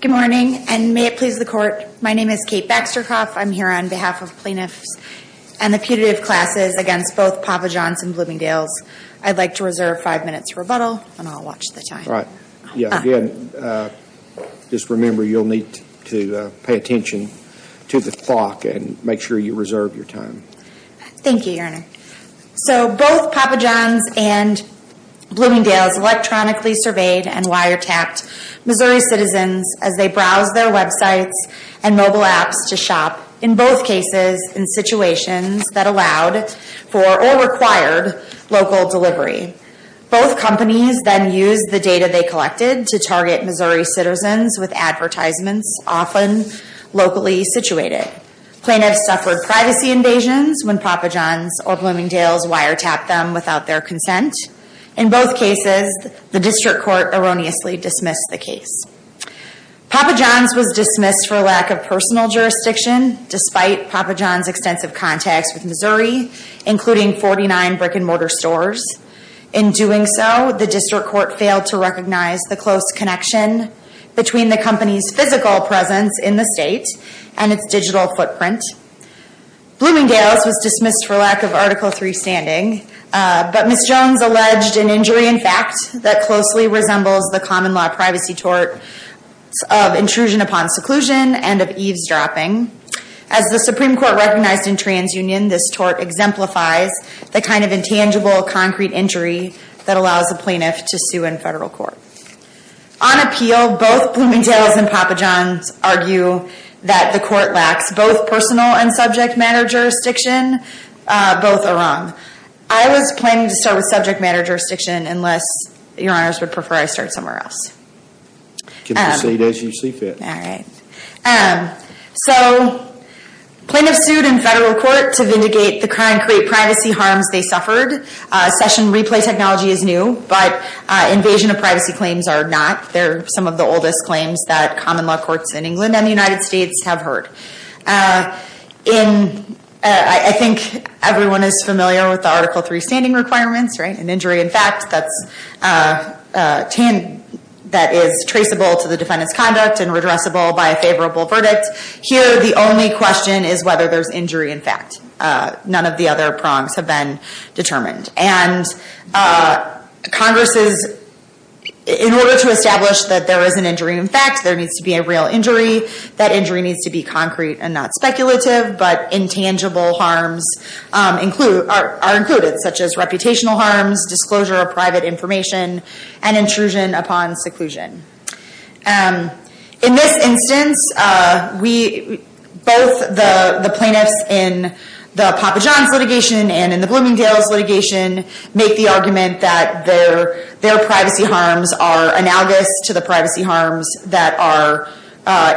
Good morning, and may it please the court, my name is Kate Baxter-Kauf. I'm here on behalf of plaintiffs and the putative classes against both Papa John's and Bloomingdales. I'd like to reserve five minutes for rebuttal, and I'll watch the time. Just remember you'll need to pay attention to the clock and make sure you reserve your time. Thank you, Your Honor. So both Papa John's and Bloomingdales electronically surveyed and wiretapped Missouri citizens as they browsed their websites and mobile apps to shop, in both cases in situations that allowed for or required local delivery. Both companies then used the data they collected to target Missouri citizens with advertisements, often locally situated. Plaintiffs suffered privacy invasions when Papa John's or Bloomingdales wiretapped them without their consent. In both cases, the district court erroneously dismissed the case. Papa John's was dismissed for lack of personal jurisdiction, despite Papa John's extensive contacts with Missouri, including 49 brick-and-mortar stores. In doing so, the district court failed to recognize the close connection between the company's physical presence in the state and its digital footprint. Bloomingdales was dismissed for lack of Article III standing, but Ms. Jones alleged an injury in fact that closely resembles the common law privacy tort of intrusion upon seclusion and of eavesdropping. As the Supreme Court recognized in TransUnion, this tort exemplifies the kind of intangible concrete injury that allows a plaintiff to sue in federal court. On appeal, both Bloomingdales and Papa John's argue that the court lacks both personal and subject matter jurisdiction. Both are wrong. I was planning to start with subject matter jurisdiction unless your honors would prefer I start somewhere else. Proceed as you see fit. So, plaintiffs sued in federal court to vindicate the crime and create privacy harms they suffered. Session replay technology is new, but invasion of privacy claims are not. They're some of the oldest claims that common law courts in England and the United States have heard. I think everyone is familiar with the Article III standing requirements, right? An injury in fact that is traceable to the defendant's conduct and redressable by a favorable verdict. Here, the only question is whether there's injury in fact. None of the other prongs have been determined. Congress, in order to establish that there is an injury in fact, there needs to be a real injury. That injury needs to be concrete and not speculative, but intangible harms are included, such as reputational harms, disclosure of private information, and intrusion upon seclusion. In this instance, both the plaintiffs in the Papa John's litigation and in the Bloomingdale's litigation make the argument that their privacy harms are analogous to the privacy harms that are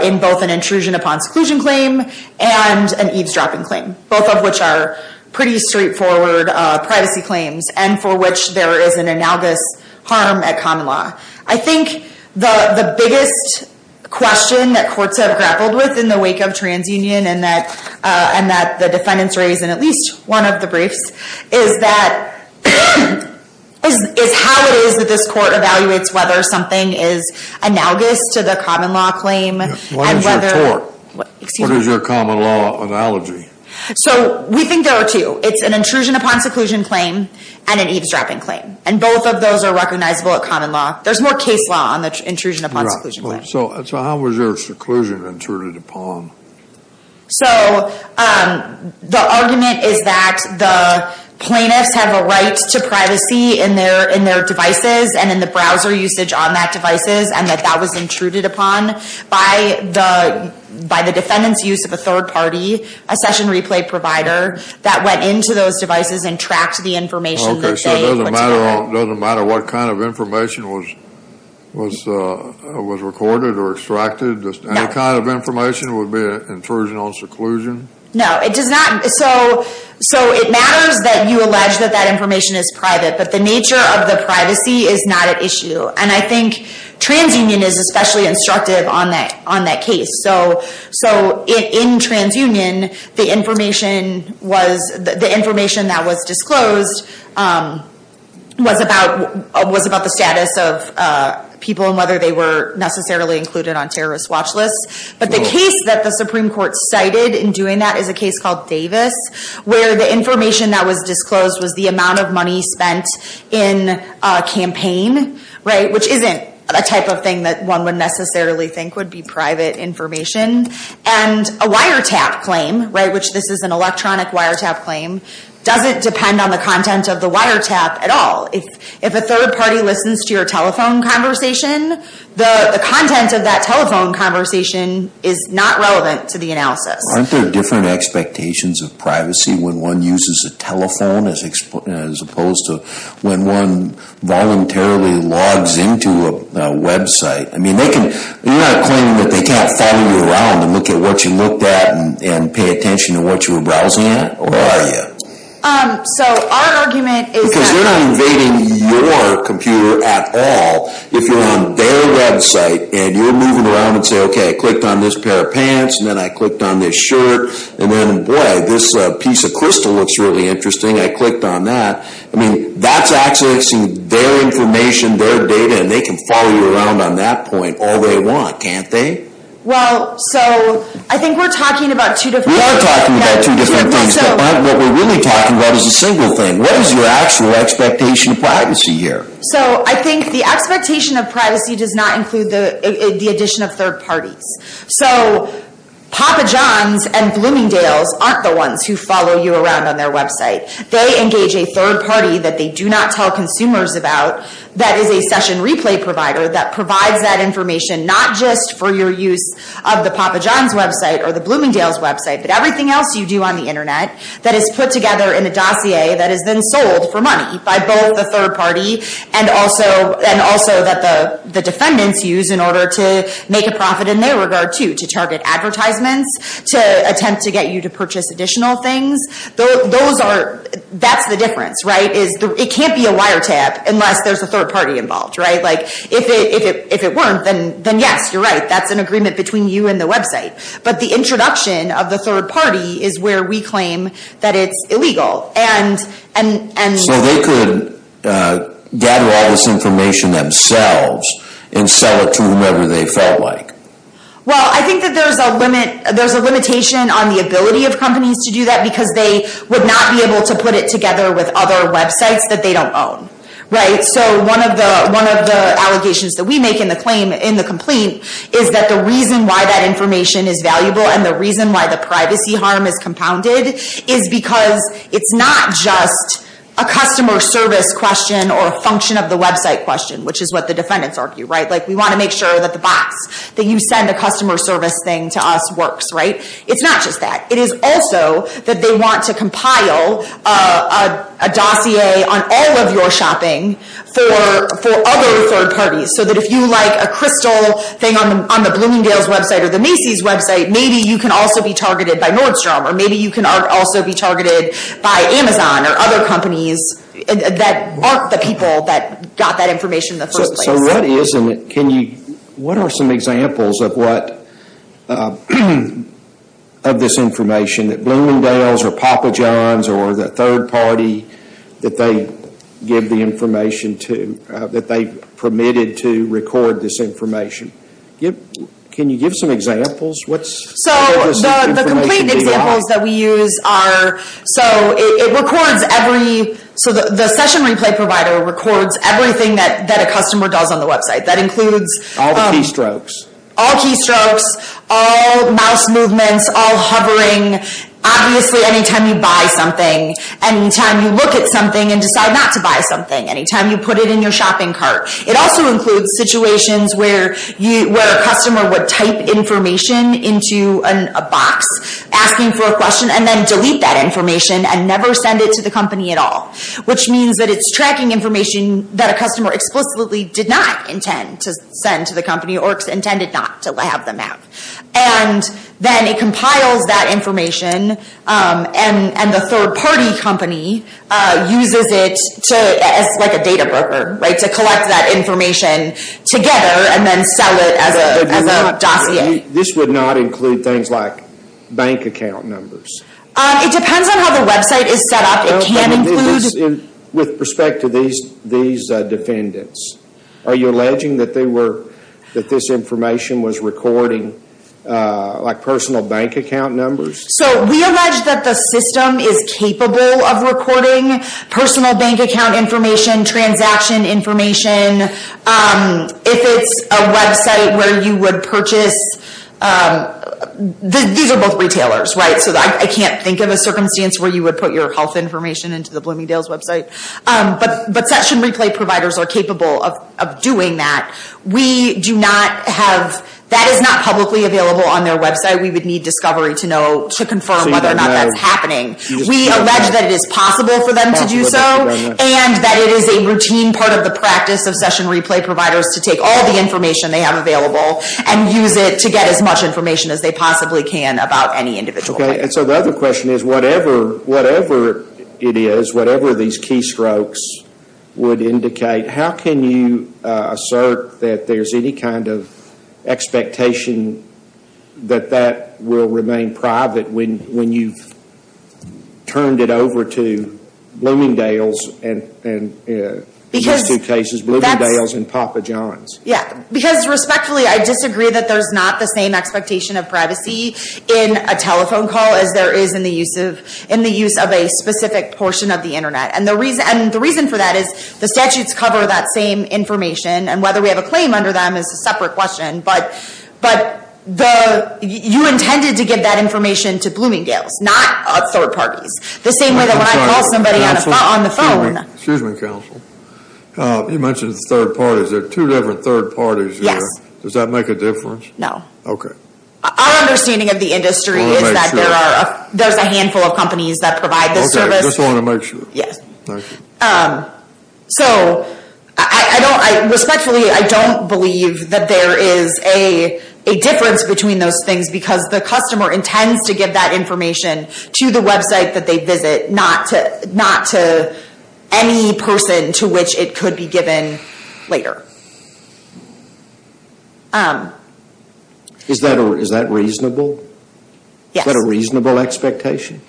in both an intrusion upon seclusion claim and an eavesdropping claim. Both of which are pretty straightforward privacy claims and for which there is an analogous harm at common law. I think the biggest question that courts have grappled with in the wake of TransUnion and that the defendants raised in at least one of the briefs is how it is that this court evaluates whether something is analogous to the common law claim. What is your common law analogy? So we think there are two. It's an intrusion upon seclusion claim and an eavesdropping claim. And both of those are recognizable at common law. There's more case law on the intrusion upon seclusion claim. So how was your seclusion intruded upon? So the argument is that the plaintiffs have a right to privacy in their devices and in the browser usage on that devices and that that was intruded upon by the defendant's use of a third party, a session replay provider, that went into those devices and tracked the information that they put together. So it doesn't matter what kind of information was recorded or extracted? Any kind of information would be an intrusion on seclusion? No, it does not. So it matters that you allege that that information is private, but the nature of the privacy is not at issue. And I think TransUnion is especially instructive on that case. So in TransUnion, the information that was disclosed was about the status of people and whether they were necessarily included on terrorist watch lists. But the case that the Supreme Court cited in doing that is a case called Davis, where the information that was disclosed was the amount of money spent in a campaign, which isn't a type of thing that one would necessarily think would be private information. And a wiretap claim, which this is an electronic wiretap claim, doesn't depend on the content of the wiretap at all. If a third party listens to your telephone conversation, the content of that telephone conversation is not relevant to the analysis. Aren't there different expectations of privacy when one uses a telephone as opposed to when one voluntarily logs into a website? I mean, you're not claiming that they can't follow you around and look at what you looked at and pay attention to what you were browsing at, or are you? Because they're not invading your computer at all. If you're on their website and you're moving around and say, OK, I clicked on this pair of pants, and then I clicked on this shirt, and then, boy, this piece of crystal looks really interesting, I clicked on that. I mean, that's accessing their information, their data, and they can follow you around on that point all they want, can't they? Well, so I think we're talking about two different things. We are talking about two different things, but what we're really talking about is a single thing. What is your actual expectation of privacy here? So I think the expectation of privacy does not include the addition of third parties. So Papa John's and Bloomingdale's aren't the ones who follow you around on their website. They engage a third party that they do not tell consumers about that is a session replay provider that provides that information, not just for your use of the Papa John's website or the Bloomingdale's website, but everything else you do on the Internet that is put together in a dossier that is then sold for money by both the third party and also that the defendants use in order to make a profit in their regard, too, to target advertisements, to attempt to get you to purchase additional things. That's the difference, right? It can't be a wiretap unless there's a third party involved, right? If it weren't, then yes, you're right. That's an agreement between you and the website. But the introduction of the third party is where we claim that it's illegal. So they could gather all this information themselves and sell it to whomever they felt like? Well, I think that there's a limitation on the ability of companies to do that because they would not be able to put it together with other websites that they don't own, right? So one of the allegations that we make in the complaint is that the reason why that information is valuable and the reason why the privacy harm is compounded is because it's not just a customer service question or a function of the website question, which is what the defendants argue, right? Like, we want to make sure that the box that you send the customer service thing to us works, right? It's not just that. It is also that they want to compile a dossier on all of your shopping for other third parties. So that if you like a crystal thing on the Bloomingdale's website or the Macy's website, maybe you can also be targeted by Nordstrom or maybe you can also be targeted by Amazon or other companies that aren't the people that got that information in the first place. So what are some examples of this information that Bloomingdale's or Papa John's or the third party that they permitted to record this information? Can you give some examples? So the complaint examples that we use are... So it records every... So the session replay provider records everything that a customer does on the website. That includes... All the keystrokes. All keystrokes. All mouse movements. All hovering. Obviously, anytime you buy something. Anytime you look at something and decide not to buy something. Anytime you put it in your shopping cart. It also includes situations where a customer would type information into a box asking for a question and then delete that information and never send it to the company at all. Which means that it's tracking information that a customer explicitly did not intend to send to the company or intended not to have them out. And then it compiles that information and the third party company uses it as like a data broker to collect that information together and then sell it as a dossier. This would not include things like bank account numbers? It depends on how the website is set up. It can include... With respect to these defendants, are you alleging that they were... That this information was recording like personal bank account numbers? So we allege that the system is capable of recording personal bank account information, transaction information. If it's a website where you would purchase... These are both retailers, right? So I can't think of a circumstance where you would put your health information into the Bloomingdale's website. But session replay providers are capable of doing that. We do not have... That is not publicly available on their website. We would need discovery to know to confirm whether or not that's happening. We allege that it is possible for them to do so. And that it is a routine part of the practice of session replay providers to take all the information they have available and use it to get as much information as they possibly can about any individual. So the other question is, whatever it is, whatever these keystrokes would indicate, how can you assert that there's any kind of expectation that that will remain private when you've turned it over to Bloomingdale's and, in these two cases, Bloomingdale's and Papa John's? Yeah, because respectfully, I disagree that there's not the same expectation of privacy in a telephone call as there is in the use of a specific portion of the internet. And the reason for that is the statutes cover that same information and whether we have a claim under them is a separate question. But you intended to give that information to Bloomingdale's, not third parties. The same way that when I call somebody on the phone... Excuse me, counsel. You mentioned third parties. There are two different third parties here. Yes. Does that make a difference? No. Okay. Our understanding of the industry is that there's a handful of companies that provide this service. Okay, just wanted to make sure. Yes. Thank you. So, respectfully, I don't believe that there is a difference between those things because the customer intends to give that information to the website that they visit, not to any person to which it could be given later. Is that reasonable? Yes. Is that a reasonable expectation?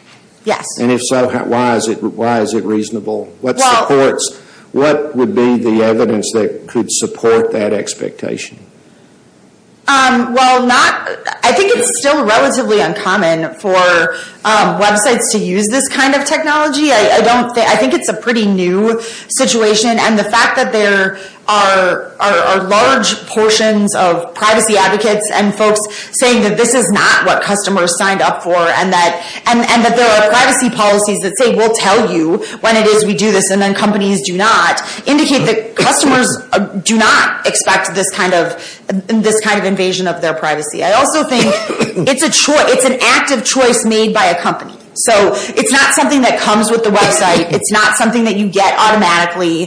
Yes. And if so, why is it reasonable? What would be the evidence that could support that expectation? Well, I think it's still relatively uncommon for websites to use this kind of technology. I think it's a pretty new situation. And the fact that there are large portions of privacy advocates and folks saying that this is not what customers signed up for and that there are privacy policies that say, we'll tell you when it is we do this and then companies do not, indicate that customers do not expect this kind of invasion of their privacy. I also think it's an active choice made by a company. So it's not something that comes with the website. It's not something that you get automatically.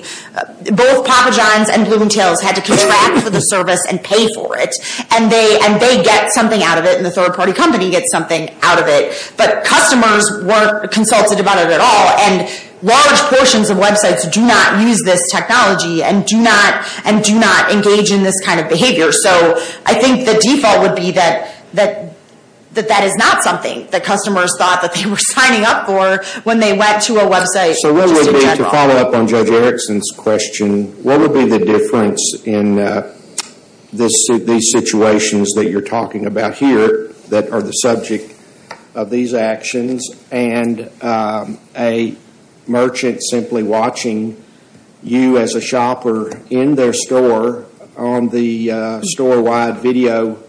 Both Papa John's and Bloomingdale's had to contract for the service and pay for it. And they get something out of it and the third-party company gets something out of it. But customers weren't consulted about it at all. And large portions of websites do not use this technology and do not engage in this kind of behavior. So I think the default would be that that is not something that customers thought that they were signing up for when they went to a website. So what would be, to follow up on Judge Erickson's question, what would be the difference in these situations that you're talking about here that are the subject of these actions and a merchant simply watching you as a shopper in their store on the store-wide video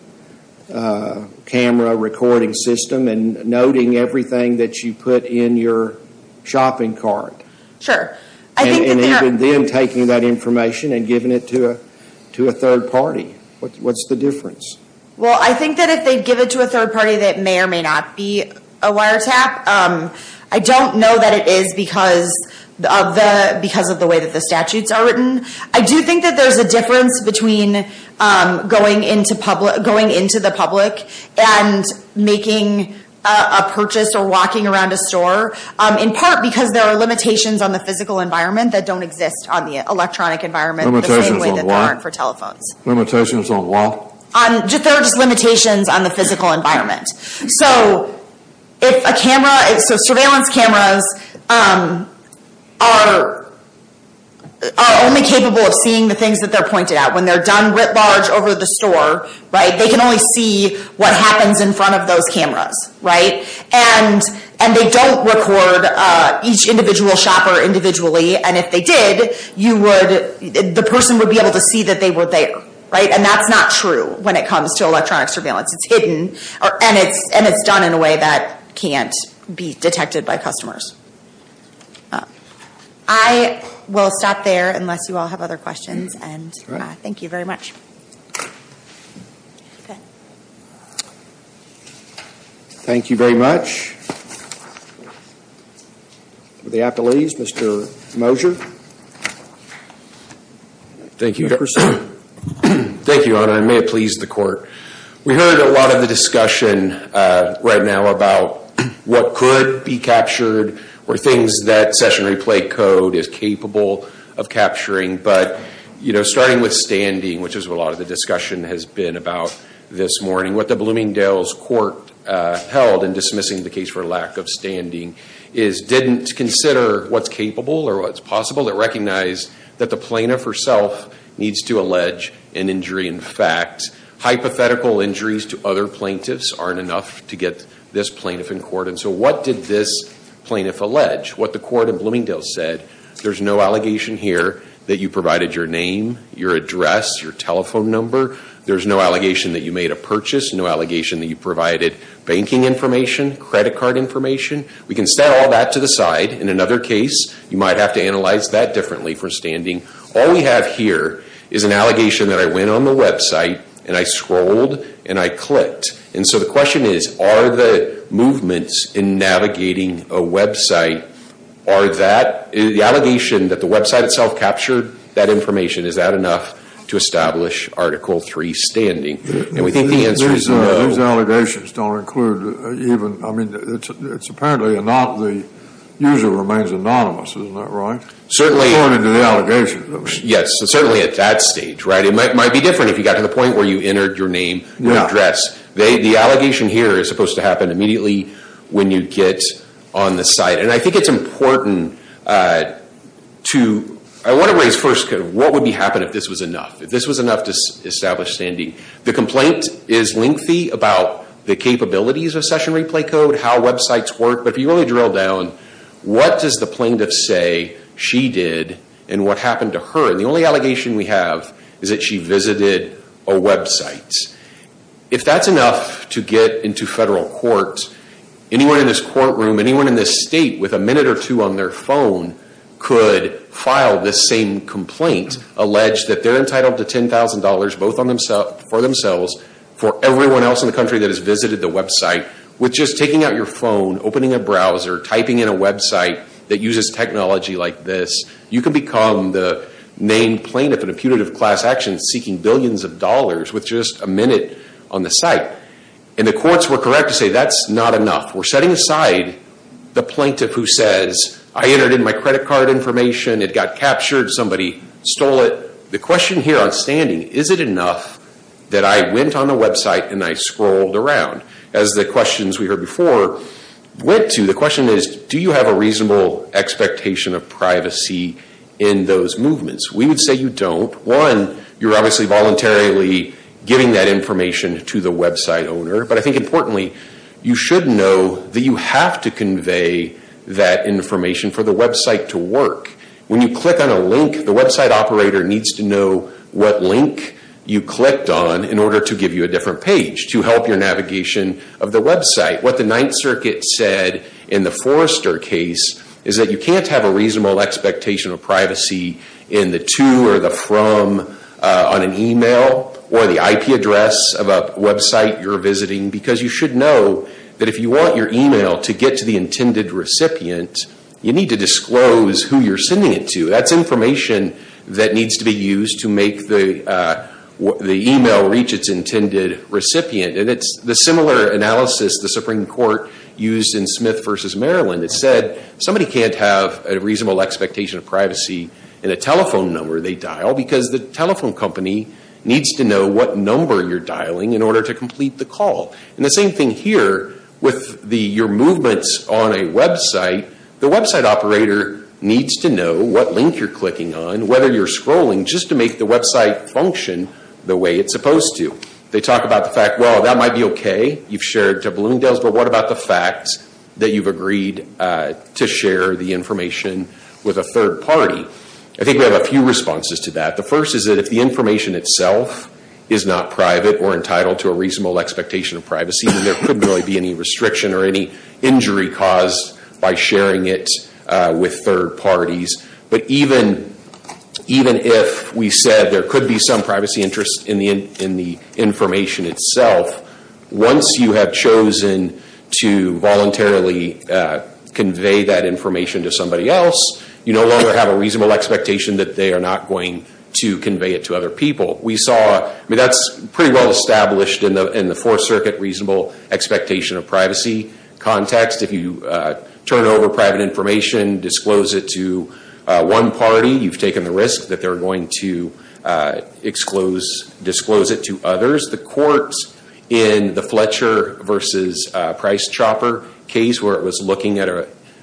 camera recording system and noting everything that you put in your shopping cart? Sure. And even then taking that information and giving it to a third-party. What's the difference? Well, I think that if they give it to a third-party, that may or may not be a wiretap. I don't know that it is because of the way that the statutes are written. I do think that there's a difference between going into the public and making a purchase or walking around a store, in part because there are limitations on the physical environment that don't exist on the electronic environment the same way that there aren't for telephones. Limitations on what? There are just limitations on the physical environment. So surveillance cameras are only capable of seeing the things that they're pointed at. When they're done writ large over the store, they can only see what happens in front of those cameras. And they don't record each individual shopper individually. And if they did, the person would be able to see that they were there. And that's not true when it comes to electronic surveillance. It's hidden, and it's done in a way that can't be detected by customers. I will stop there unless you all have other questions. Thank you very much. Thank you very much. The appellees, Mr. Mosher. Thank you. Thank you, Your Honor. I may have pleased the court. We heard a lot of the discussion right now about what could be captured or things that session replay code is capable of capturing. But, you know, starting with standing, which is what a lot of the discussion has been about this morning, what the Bloomingdale's Court held in dismissing the case for lack of standing is didn't consider what's capable or what's possible. It recognized that the plaintiff herself needs to allege an injury in fact. Hypothetical injuries to other plaintiffs aren't enough to get this plaintiff in court. And so what did this plaintiff allege? What the court in Bloomingdale said, there's no allegation here that you provided your name, your address, your telephone number. There's no allegation that you made a purchase, no allegation that you provided banking information, credit card information. We can set all that to the side. In another case, you might have to analyze that differently for standing. All we have here is an allegation that I went on the website and I scrolled and I clicked. And so the question is, are the movements in navigating a website, are that the allegation that the website itself captured that information, is that enough to establish Article III standing? And we think the answer is no. These allegations don't include even, I mean, it's apparently not the user remains anonymous. Isn't that right? Certainly. According to the allegation. Yes, certainly at that stage, right? It might be different if you got to the point where you entered your name, your address. The allegation here is supposed to happen immediately when you get on the site. And I think it's important to, I want to raise first, what would happen if this was enough? If this was enough to establish standing? The complaint is lengthy about the capabilities of session replay code, how websites work. But if you really drill down, what does the plaintiff say she did and what happened to her? And the only allegation we have is that she visited a website. If that's enough to get into federal court, anyone in this courtroom, anyone in this state with a minute or two on their phone could file this same complaint, allege that they're entitled to $10,000 both for themselves, for everyone else in the country that has visited the website. With just taking out your phone, opening a browser, typing in a website that uses technology like this, you could become the named plaintiff in a punitive class action seeking billions of dollars with just a minute on the site. And the courts were correct to say that's not enough. We're setting aside the plaintiff who says, I entered in my credit card information, it got captured, somebody stole it. The question here on standing, is it enough that I went on the website and I scrolled around? As the questions we heard before went to, the question is, do you have a reasonable expectation of privacy in those movements? We would say you don't. One, you're obviously voluntarily giving that information to the website owner. But I think importantly, you should know that you have to convey that information for the website to work. When you click on a link, the website operator needs to know what link you clicked on in order to give you a different page to help your navigation of the website. What the Ninth Circuit said in the Forrester case is that you can't have a reasonable expectation of privacy in the to or the from on an email or the IP address of a website you're visiting because you should know that if you want your email to get to the intended recipient, you need to disclose who you're sending it to. That's information that needs to be used to make the email reach its intended recipient. It's the similar analysis the Supreme Court used in Smith v. Maryland. It said somebody can't have a reasonable expectation of privacy in a telephone number they dial because the telephone company needs to know what number you're dialing in order to complete the call. The same thing here with your movements on a website. The website operator needs to know what link you're clicking on, whether you're scrolling, just to make the website function the way it's supposed to. They talk about the fact, well, that might be okay, you've shared to Bloomingdale's, but what about the fact that you've agreed to share the information with a third party? I think we have a few responses to that. The first is that if the information itself is not private or entitled to a reasonable expectation of privacy, then there couldn't really be any restriction or any injury caused by sharing it with third parties. But even if we said there could be some privacy interest in the information itself, once you have chosen to voluntarily convey that information to somebody else, you no longer have a reasonable expectation that they are not going to convey it to other people. That's pretty well established in the Fourth Circuit reasonable expectation of privacy context. If you turn over private information, disclose it to one party, you've taken the risk that they're going to disclose it to others. The courts in the Fletcher v. Price-Chopper case, where it was looking at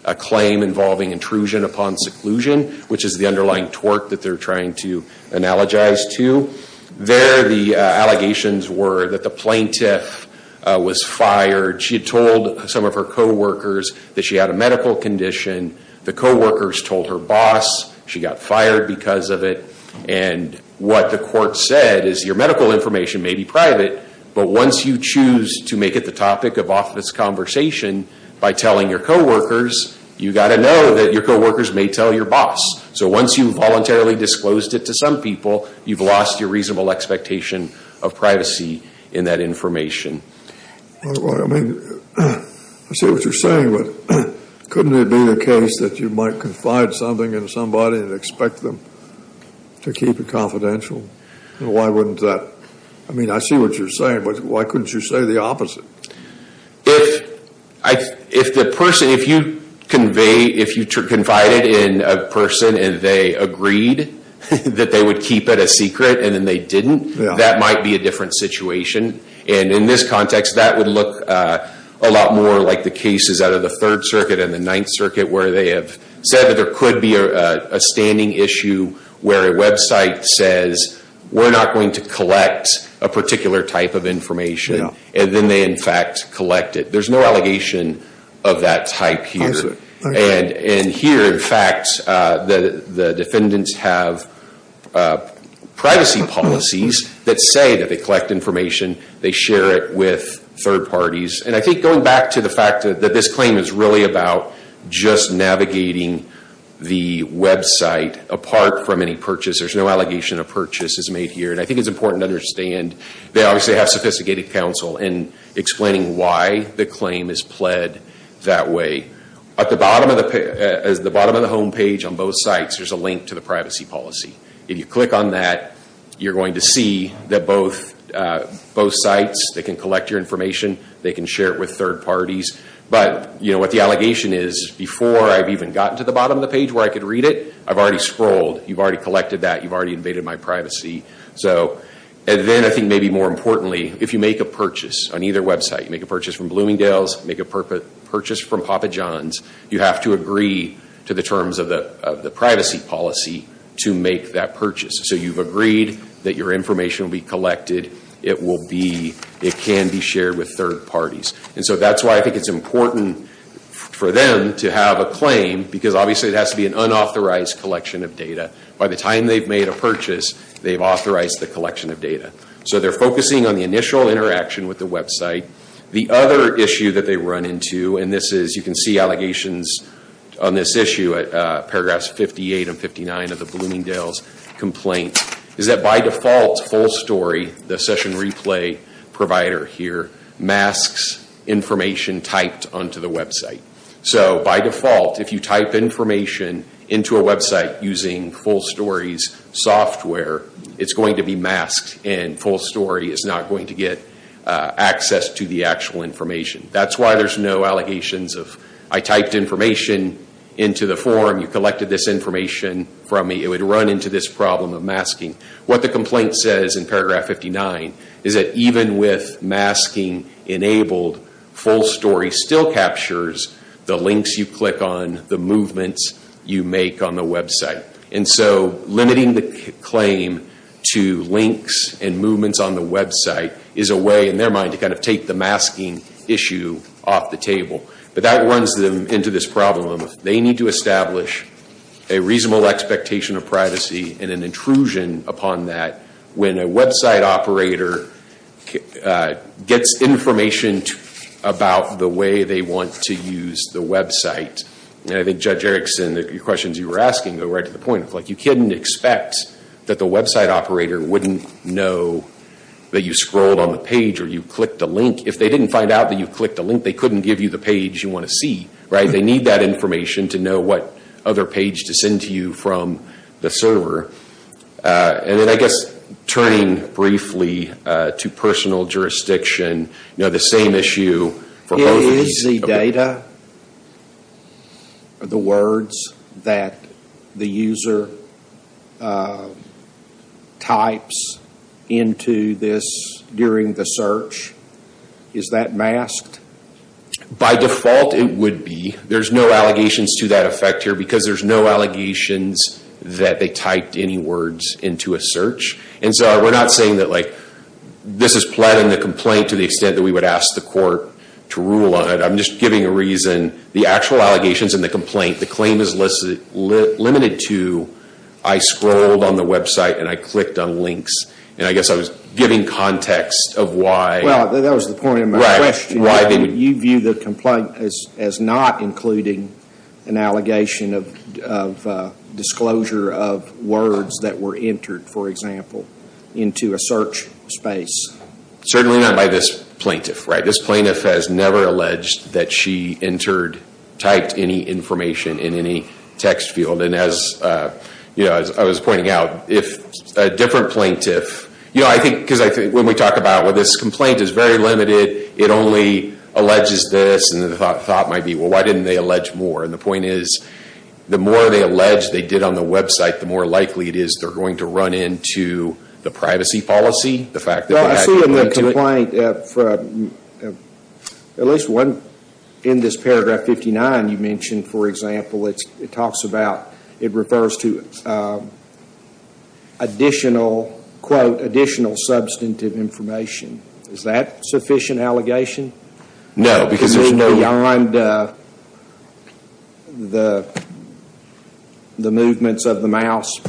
a claim involving intrusion upon seclusion, which is the underlying tort that they're trying to analogize to, there the allegations were that the plaintiff was fired. She had told some of her co-workers that she had a medical condition. The co-workers told her boss she got fired because of it. And what the court said is your medical information may be private, but once you choose to make it the topic of office conversation by telling your co-workers, you've got to know that your co-workers may tell your boss. So once you've voluntarily disclosed it to some people, you've lost your reasonable expectation of privacy in that information. Well, I mean, I see what you're saying, but couldn't it be the case that you might confide something in somebody and expect them to keep it confidential? Why wouldn't that? I mean, I see what you're saying, but why couldn't you say the opposite? If the person, if you confide it in a person and they agreed that they would keep it a secret and then they didn't, that might be a different situation. And in this context, that would look a lot more like the cases out of the Third Circuit and the Ninth Circuit where they have said that there could be a standing issue where a website says we're not going to collect a particular type of information, and then they in fact collect it. There's no allegation of that type here. And here, in fact, the defendants have privacy policies that say that they collect information, they share it with third parties. And I think going back to the fact that this claim is really about just navigating the website apart from any purchase, there's no allegation of purchase is made here. And I think it's important to understand they obviously have sophisticated counsel in explaining why the claim is pled that way. At the bottom of the homepage on both sites, there's a link to the privacy policy. If you click on that, you're going to see that both sites, they can collect your information, they can share it with third parties. But what the allegation is, before I've even gotten to the bottom of the page where I could read it, I've already scrolled. You've already collected that. You've already invaded my privacy. And then I think maybe more importantly, if you make a purchase on either website, make a purchase from Bloomingdale's, make a purchase from Papa John's, you have to agree to the terms of the privacy policy to make that purchase. So you've agreed that your information will be collected. It can be shared with third parties. And so that's why I think it's important for them to have a claim because obviously it has to be an unauthorized collection of data. By the time they've made a purchase, they've authorized the collection of data. So they're focusing on the initial interaction with the website. The other issue that they run into, and you can see allegations on this issue at paragraphs 58 and 59 of the Bloomingdale's complaint, is that by default, Full Story, the session replay provider here, masks information typed onto the website. So by default, if you type information into a website using Full Story's software, it's going to be masked and Full Story is not going to get access to the actual information. That's why there's no allegations of, I typed information into the form, you collected this information from me. It would run into this problem of masking. What the complaint says in paragraph 59 is that even with masking enabled, Full Story still captures the links you click on, the movements you make on the website. And so limiting the claim to links and movements on the website is a way, in their mind, to kind of take the masking issue off the table. But that runs them into this problem. They need to establish a reasonable expectation of privacy and an intrusion upon that when a website operator gets information about the way they want to use the website. I think Judge Erickson, the questions you were asking go right to the point. You couldn't expect that the website operator wouldn't know that you scrolled on the page or you clicked a link. If they didn't find out that you clicked a link, they couldn't give you the page you want to see. They need that information to know what other page to send to you from the server. And then I guess turning briefly to personal jurisdiction, the same issue for both of these. Is busy data the words that the user types into this during the search? Is that masked? By default, it would be. There's no allegations to that effect here because there's no allegations that they typed any words into a search. And so we're not saying that this is pleading the complaint to the extent that we would ask the court to rule on it. I'm just giving a reason. The actual allegations in the complaint, the claim is limited to I scrolled on the website and I clicked on links. And I guess I was giving context of why. Well, that was the point of my question. You view the complaint as not including an allegation of disclosure of words that were entered, for example, into a search space. Certainly not by this plaintiff. This plaintiff has never alleged that she entered, typed any information in any text field. And as I was pointing out, if a different plaintiff. When we talk about when this complaint is very limited, it only alleges this. And the thought might be, well, why didn't they allege more? And the point is, the more they allege they did on the website, the more likely it is they're going to run into the privacy policy. I see in the complaint, at least one in this paragraph 59 you mentioned, for example, it talks about, it refers to additional, quote, additional substantive information. Is that sufficient allegation? No, because there's no. Beyond the movements of the mouse?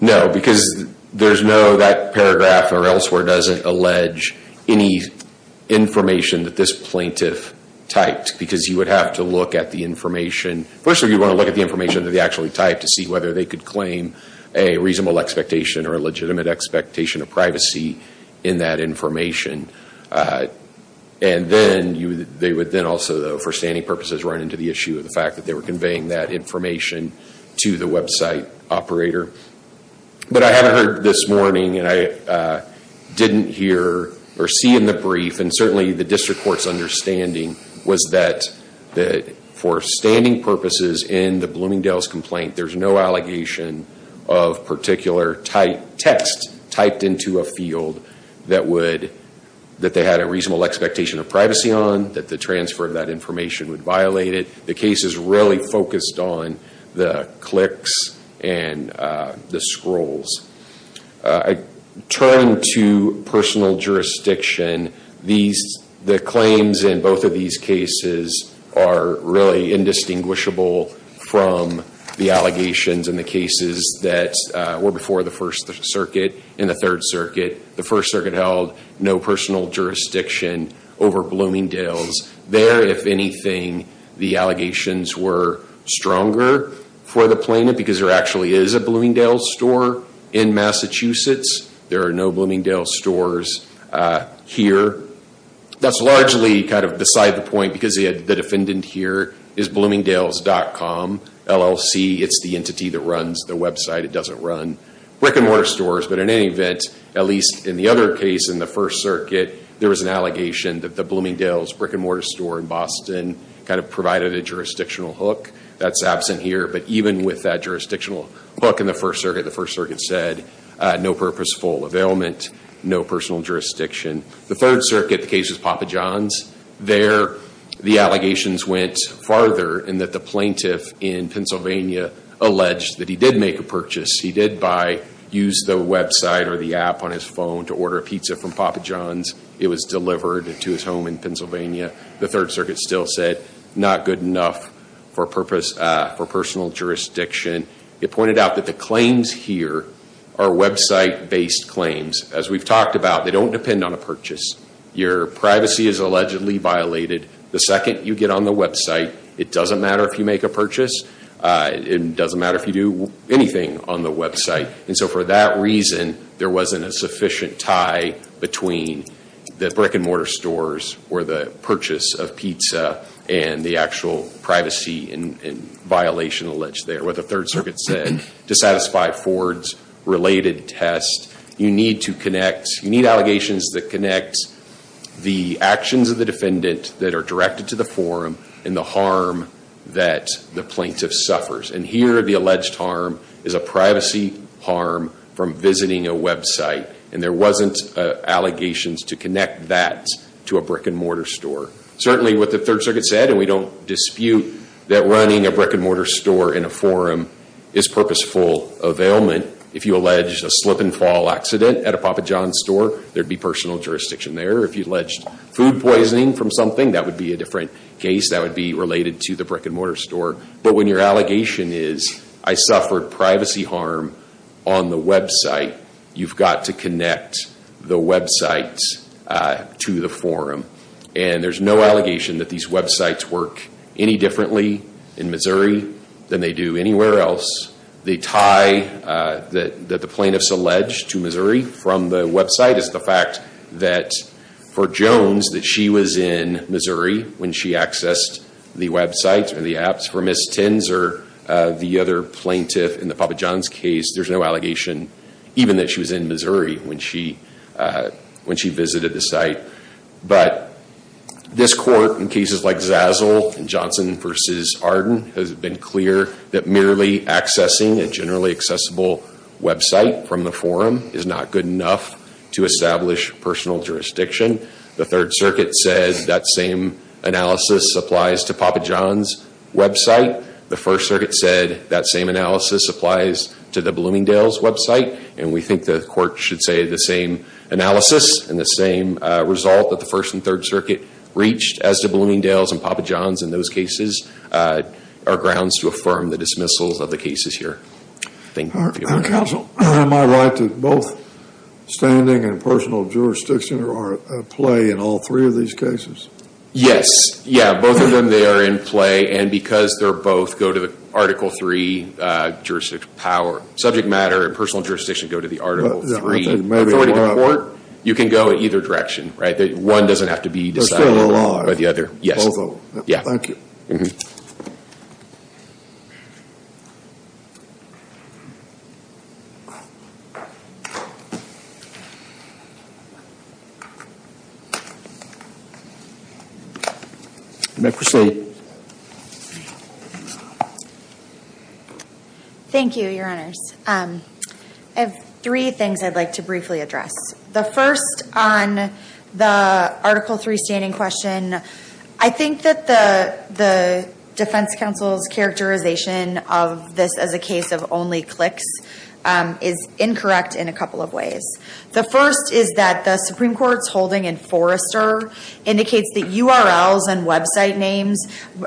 No, because there's no, that paragraph or elsewhere doesn't allege any information that this plaintiff typed. Because you would have to look at the information. First of all, you want to look at the information that they actually typed to see whether they could claim a reasonable expectation or a legitimate expectation of privacy in that information. And then they would then also, for standing purposes, run into the issue of the fact that they were conveying that information to the website operator. But I haven't heard this morning, and I didn't hear or see in the brief, and certainly the district court's understanding was that for standing purposes in the Bloomingdale's complaint, there's no allegation of particular text typed into a field that they had a reasonable expectation of privacy on, that the transfer of that information would violate it. The case is really focused on the clicks and the scrolls. I turn to personal jurisdiction. The claims in both of these cases are really indistinguishable from the allegations in the cases that were before the First Circuit. In the Third Circuit, the First Circuit held no personal jurisdiction over Bloomingdale's. There, if anything, the allegations were stronger for the plaintiff, because there actually is a Bloomingdale's store in Massachusetts. There are no Bloomingdale's stores here. That's largely kind of beside the point, because the defendant here is Bloomingdale's.com, LLC. It's the entity that runs the website. It doesn't run brick-and-mortar stores. But in any event, at least in the other case in the First Circuit, there was an allegation that the Bloomingdale's brick-and-mortar store in Boston kind of provided a jurisdictional hook. That's absent here. But even with that jurisdictional hook in the First Circuit, the First Circuit said no purposeful availment, no personal jurisdiction. The Third Circuit, the case was Papa John's. There, the allegations went farther in that the plaintiff in Pennsylvania alleged that he did make a purchase. He did use the website or the app on his phone to order a pizza from Papa John's. It was delivered to his home in Pennsylvania. The Third Circuit still said not good enough for personal jurisdiction. It pointed out that the claims here are website-based claims. As we've talked about, they don't depend on a purchase. Your privacy is allegedly violated the second you get on the website. It doesn't matter if you make a purchase. It doesn't matter if you do anything on the website. And so for that reason, there wasn't a sufficient tie between the brick-and-mortar stores or the purchase of pizza and the actual privacy and violation alleged there. What the Third Circuit said, to satisfy Ford's related test, you need to connect. You need allegations that connect the actions of the defendant that are directed to the forum and the harm that the plaintiff suffers. And here, the alleged harm is a privacy harm from visiting a website. And there wasn't allegations to connect that to a brick-and-mortar store. Certainly, what the Third Circuit said, and we don't dispute that running a brick-and-mortar store in a forum is purposeful availment. If you alleged a slip-and-fall accident at a Papa John's store, there'd be personal jurisdiction there. If you alleged food poisoning from something, that would be a different case. That would be related to the brick-and-mortar store. But when your allegation is, I suffered privacy harm on the website, you've got to connect the website to the forum. And there's no allegation that these websites work any differently in Missouri than they do anywhere else. The tie that the plaintiffs allege to Missouri from the website is the fact that for Jones, that she was in Missouri when she accessed the website or the apps. For Ms. Tinser, the other plaintiff in the Papa John's case, there's no allegation even that she was in Missouri when she visited the site. But this court, in cases like Zazzle and Johnson v. Arden, has been clear that merely accessing a generally accessible website from the forum is not good enough to establish personal jurisdiction. The Third Circuit said that same analysis applies to Papa John's website. The First Circuit said that same analysis applies to the Bloomingdale's website. And we think the court should say the same analysis and the same result that the First and Third Circuit reached as to Bloomingdale's and Papa John's in those cases are grounds to affirm the dismissals of the cases here. Thank you. Counsel, am I right that both standing and personal jurisdiction are at play in all three of these cases? Yes. Yeah, both of them, they are in play. And because they're both go to the Article III jurisdict power, subject matter and personal jurisdiction go to the Article III authority of the court, you can go in either direction, right? One doesn't have to be decided by the other. Thank you. Mm-hmm. Rebecca Creslet. Thank you, Your Honors. I have three things I'd like to briefly address. The first on the Article III standing question, I think that the defense counsel's characterization of this as a case of only clicks is incorrect in a couple of ways. The first is that the Supreme Court's holding in Forrester indicates that URLs and website names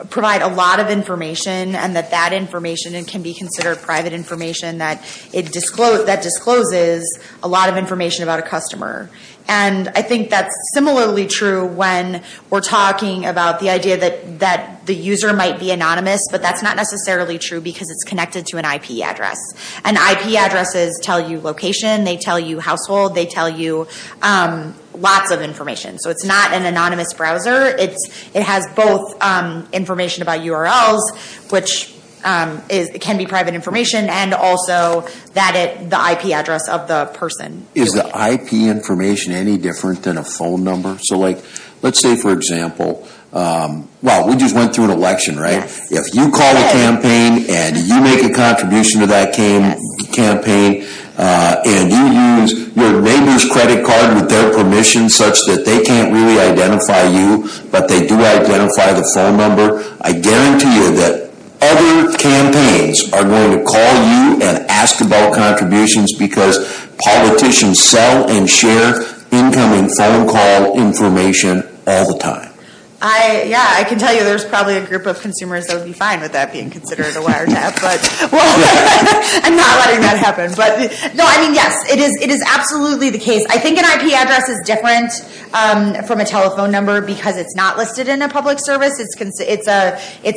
provide a lot of information and that that information can be considered private information that discloses a lot of information about a customer. And I think that's similarly true when we're talking about the idea that the user might be anonymous, but that's not necessarily true because it's connected to an IP address. And IP addresses tell you location, they tell you household, they tell you lots of information. So it's not an anonymous browser. It has both information about URLs, which can be private information, and also the IP address of the person. Is the IP information any different than a phone number? So let's say, for example, we just went through an election, right? If you call a campaign and you make a contribution to that campaign and you use your neighbor's credit card with their permission such that they can't really identify you, but they do identify the phone number, I guarantee you that other campaigns are going to call you and ask about contributions because politicians sell and share incoming phone call information all the time. Yeah, I can tell you there's probably a group of consumers that would be fine with that being considered a wiretap, but I'm not letting that happen. No, I mean, yes, it is absolutely the case. I think an IP address is different from a telephone number because it's not listed in a public service. It's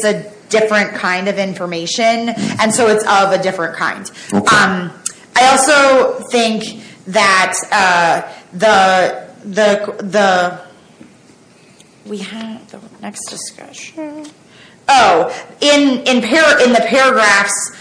a different kind of information, and so it's of a different kind. I also think that the—we have the next discussion. Oh, in the paragraphs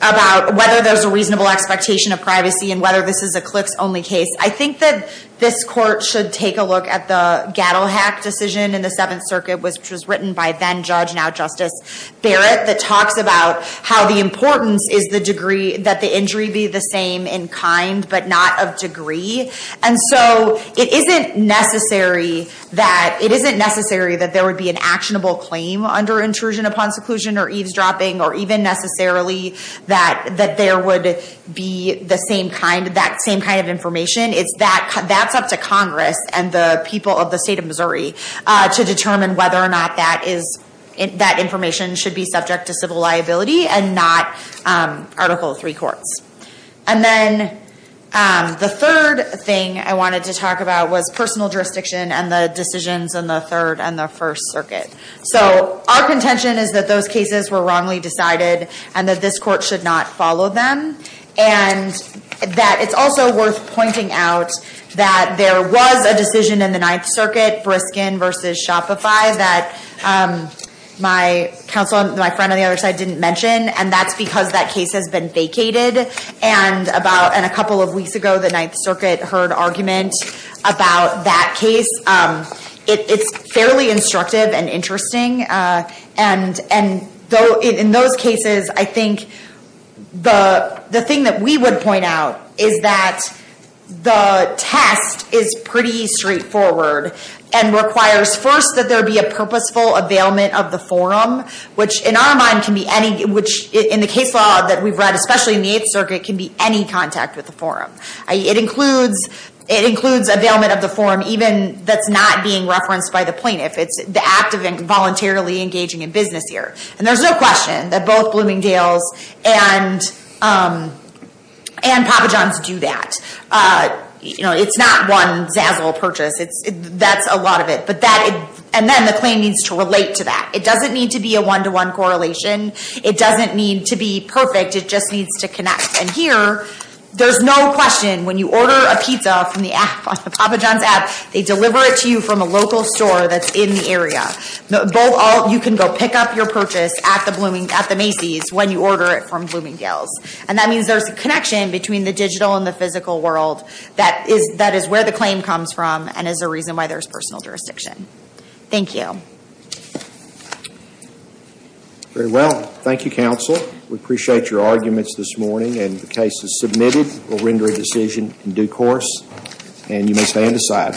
about whether there's a reasonable expectation of privacy and whether this is a clicks-only case, I think that this court should take a look at the Gattelhack decision in the Seventh Circuit, which was written by then-judge, now-Justice Barrett, that talks about how the importance is that the injury be the same in kind but not of degree. And so it isn't necessary that there would be an actionable claim under intrusion upon seclusion or eavesdropping or even necessarily that there would be that same kind of information. That's up to Congress and the people of the state of Missouri to determine whether or not that information should be subject to civil liability and not Article III courts. And then the third thing I wanted to talk about was personal jurisdiction and the decisions in the Third and the First Circuit. So our contention is that those cases were wrongly decided and that this court should not follow them, and that it's also worth pointing out that there was a decision in the Ninth Circuit, Briskin v. Shopify, that my friend on the other side didn't mention, and that's because that case has been vacated. And a couple of weeks ago, the Ninth Circuit heard argument about that case. It's fairly instructive and interesting. And in those cases, I think the thing that we would point out is that the test is pretty straightforward and requires first that there be a purposeful availment of the forum, which in the case law that we've read, especially in the Eighth Circuit, can be any contact with the forum. It includes availment of the forum even that's not being referenced by the plaintiff. It's the act of voluntarily engaging in business here. And there's no question that both Bloomingdale's and Papa John's do that. It's not one zazzle purchase. That's a lot of it. And then the claim needs to relate to that. It doesn't need to be a one-to-one correlation. It doesn't need to be perfect. It just needs to connect. And here, there's no question when you order a pizza from the Papa John's app, they deliver it to you from a local store that's in the area. You can go pick up your purchase at the Macy's when you order it from Bloomingdale's. And that means there's a connection between the digital and the physical world that is where the claim comes from and is the reason why there's personal jurisdiction. Thank you. Very well. Thank you, counsel. We appreciate your arguments this morning. And the case is submitted. We'll render a decision in due course. And you may stand aside.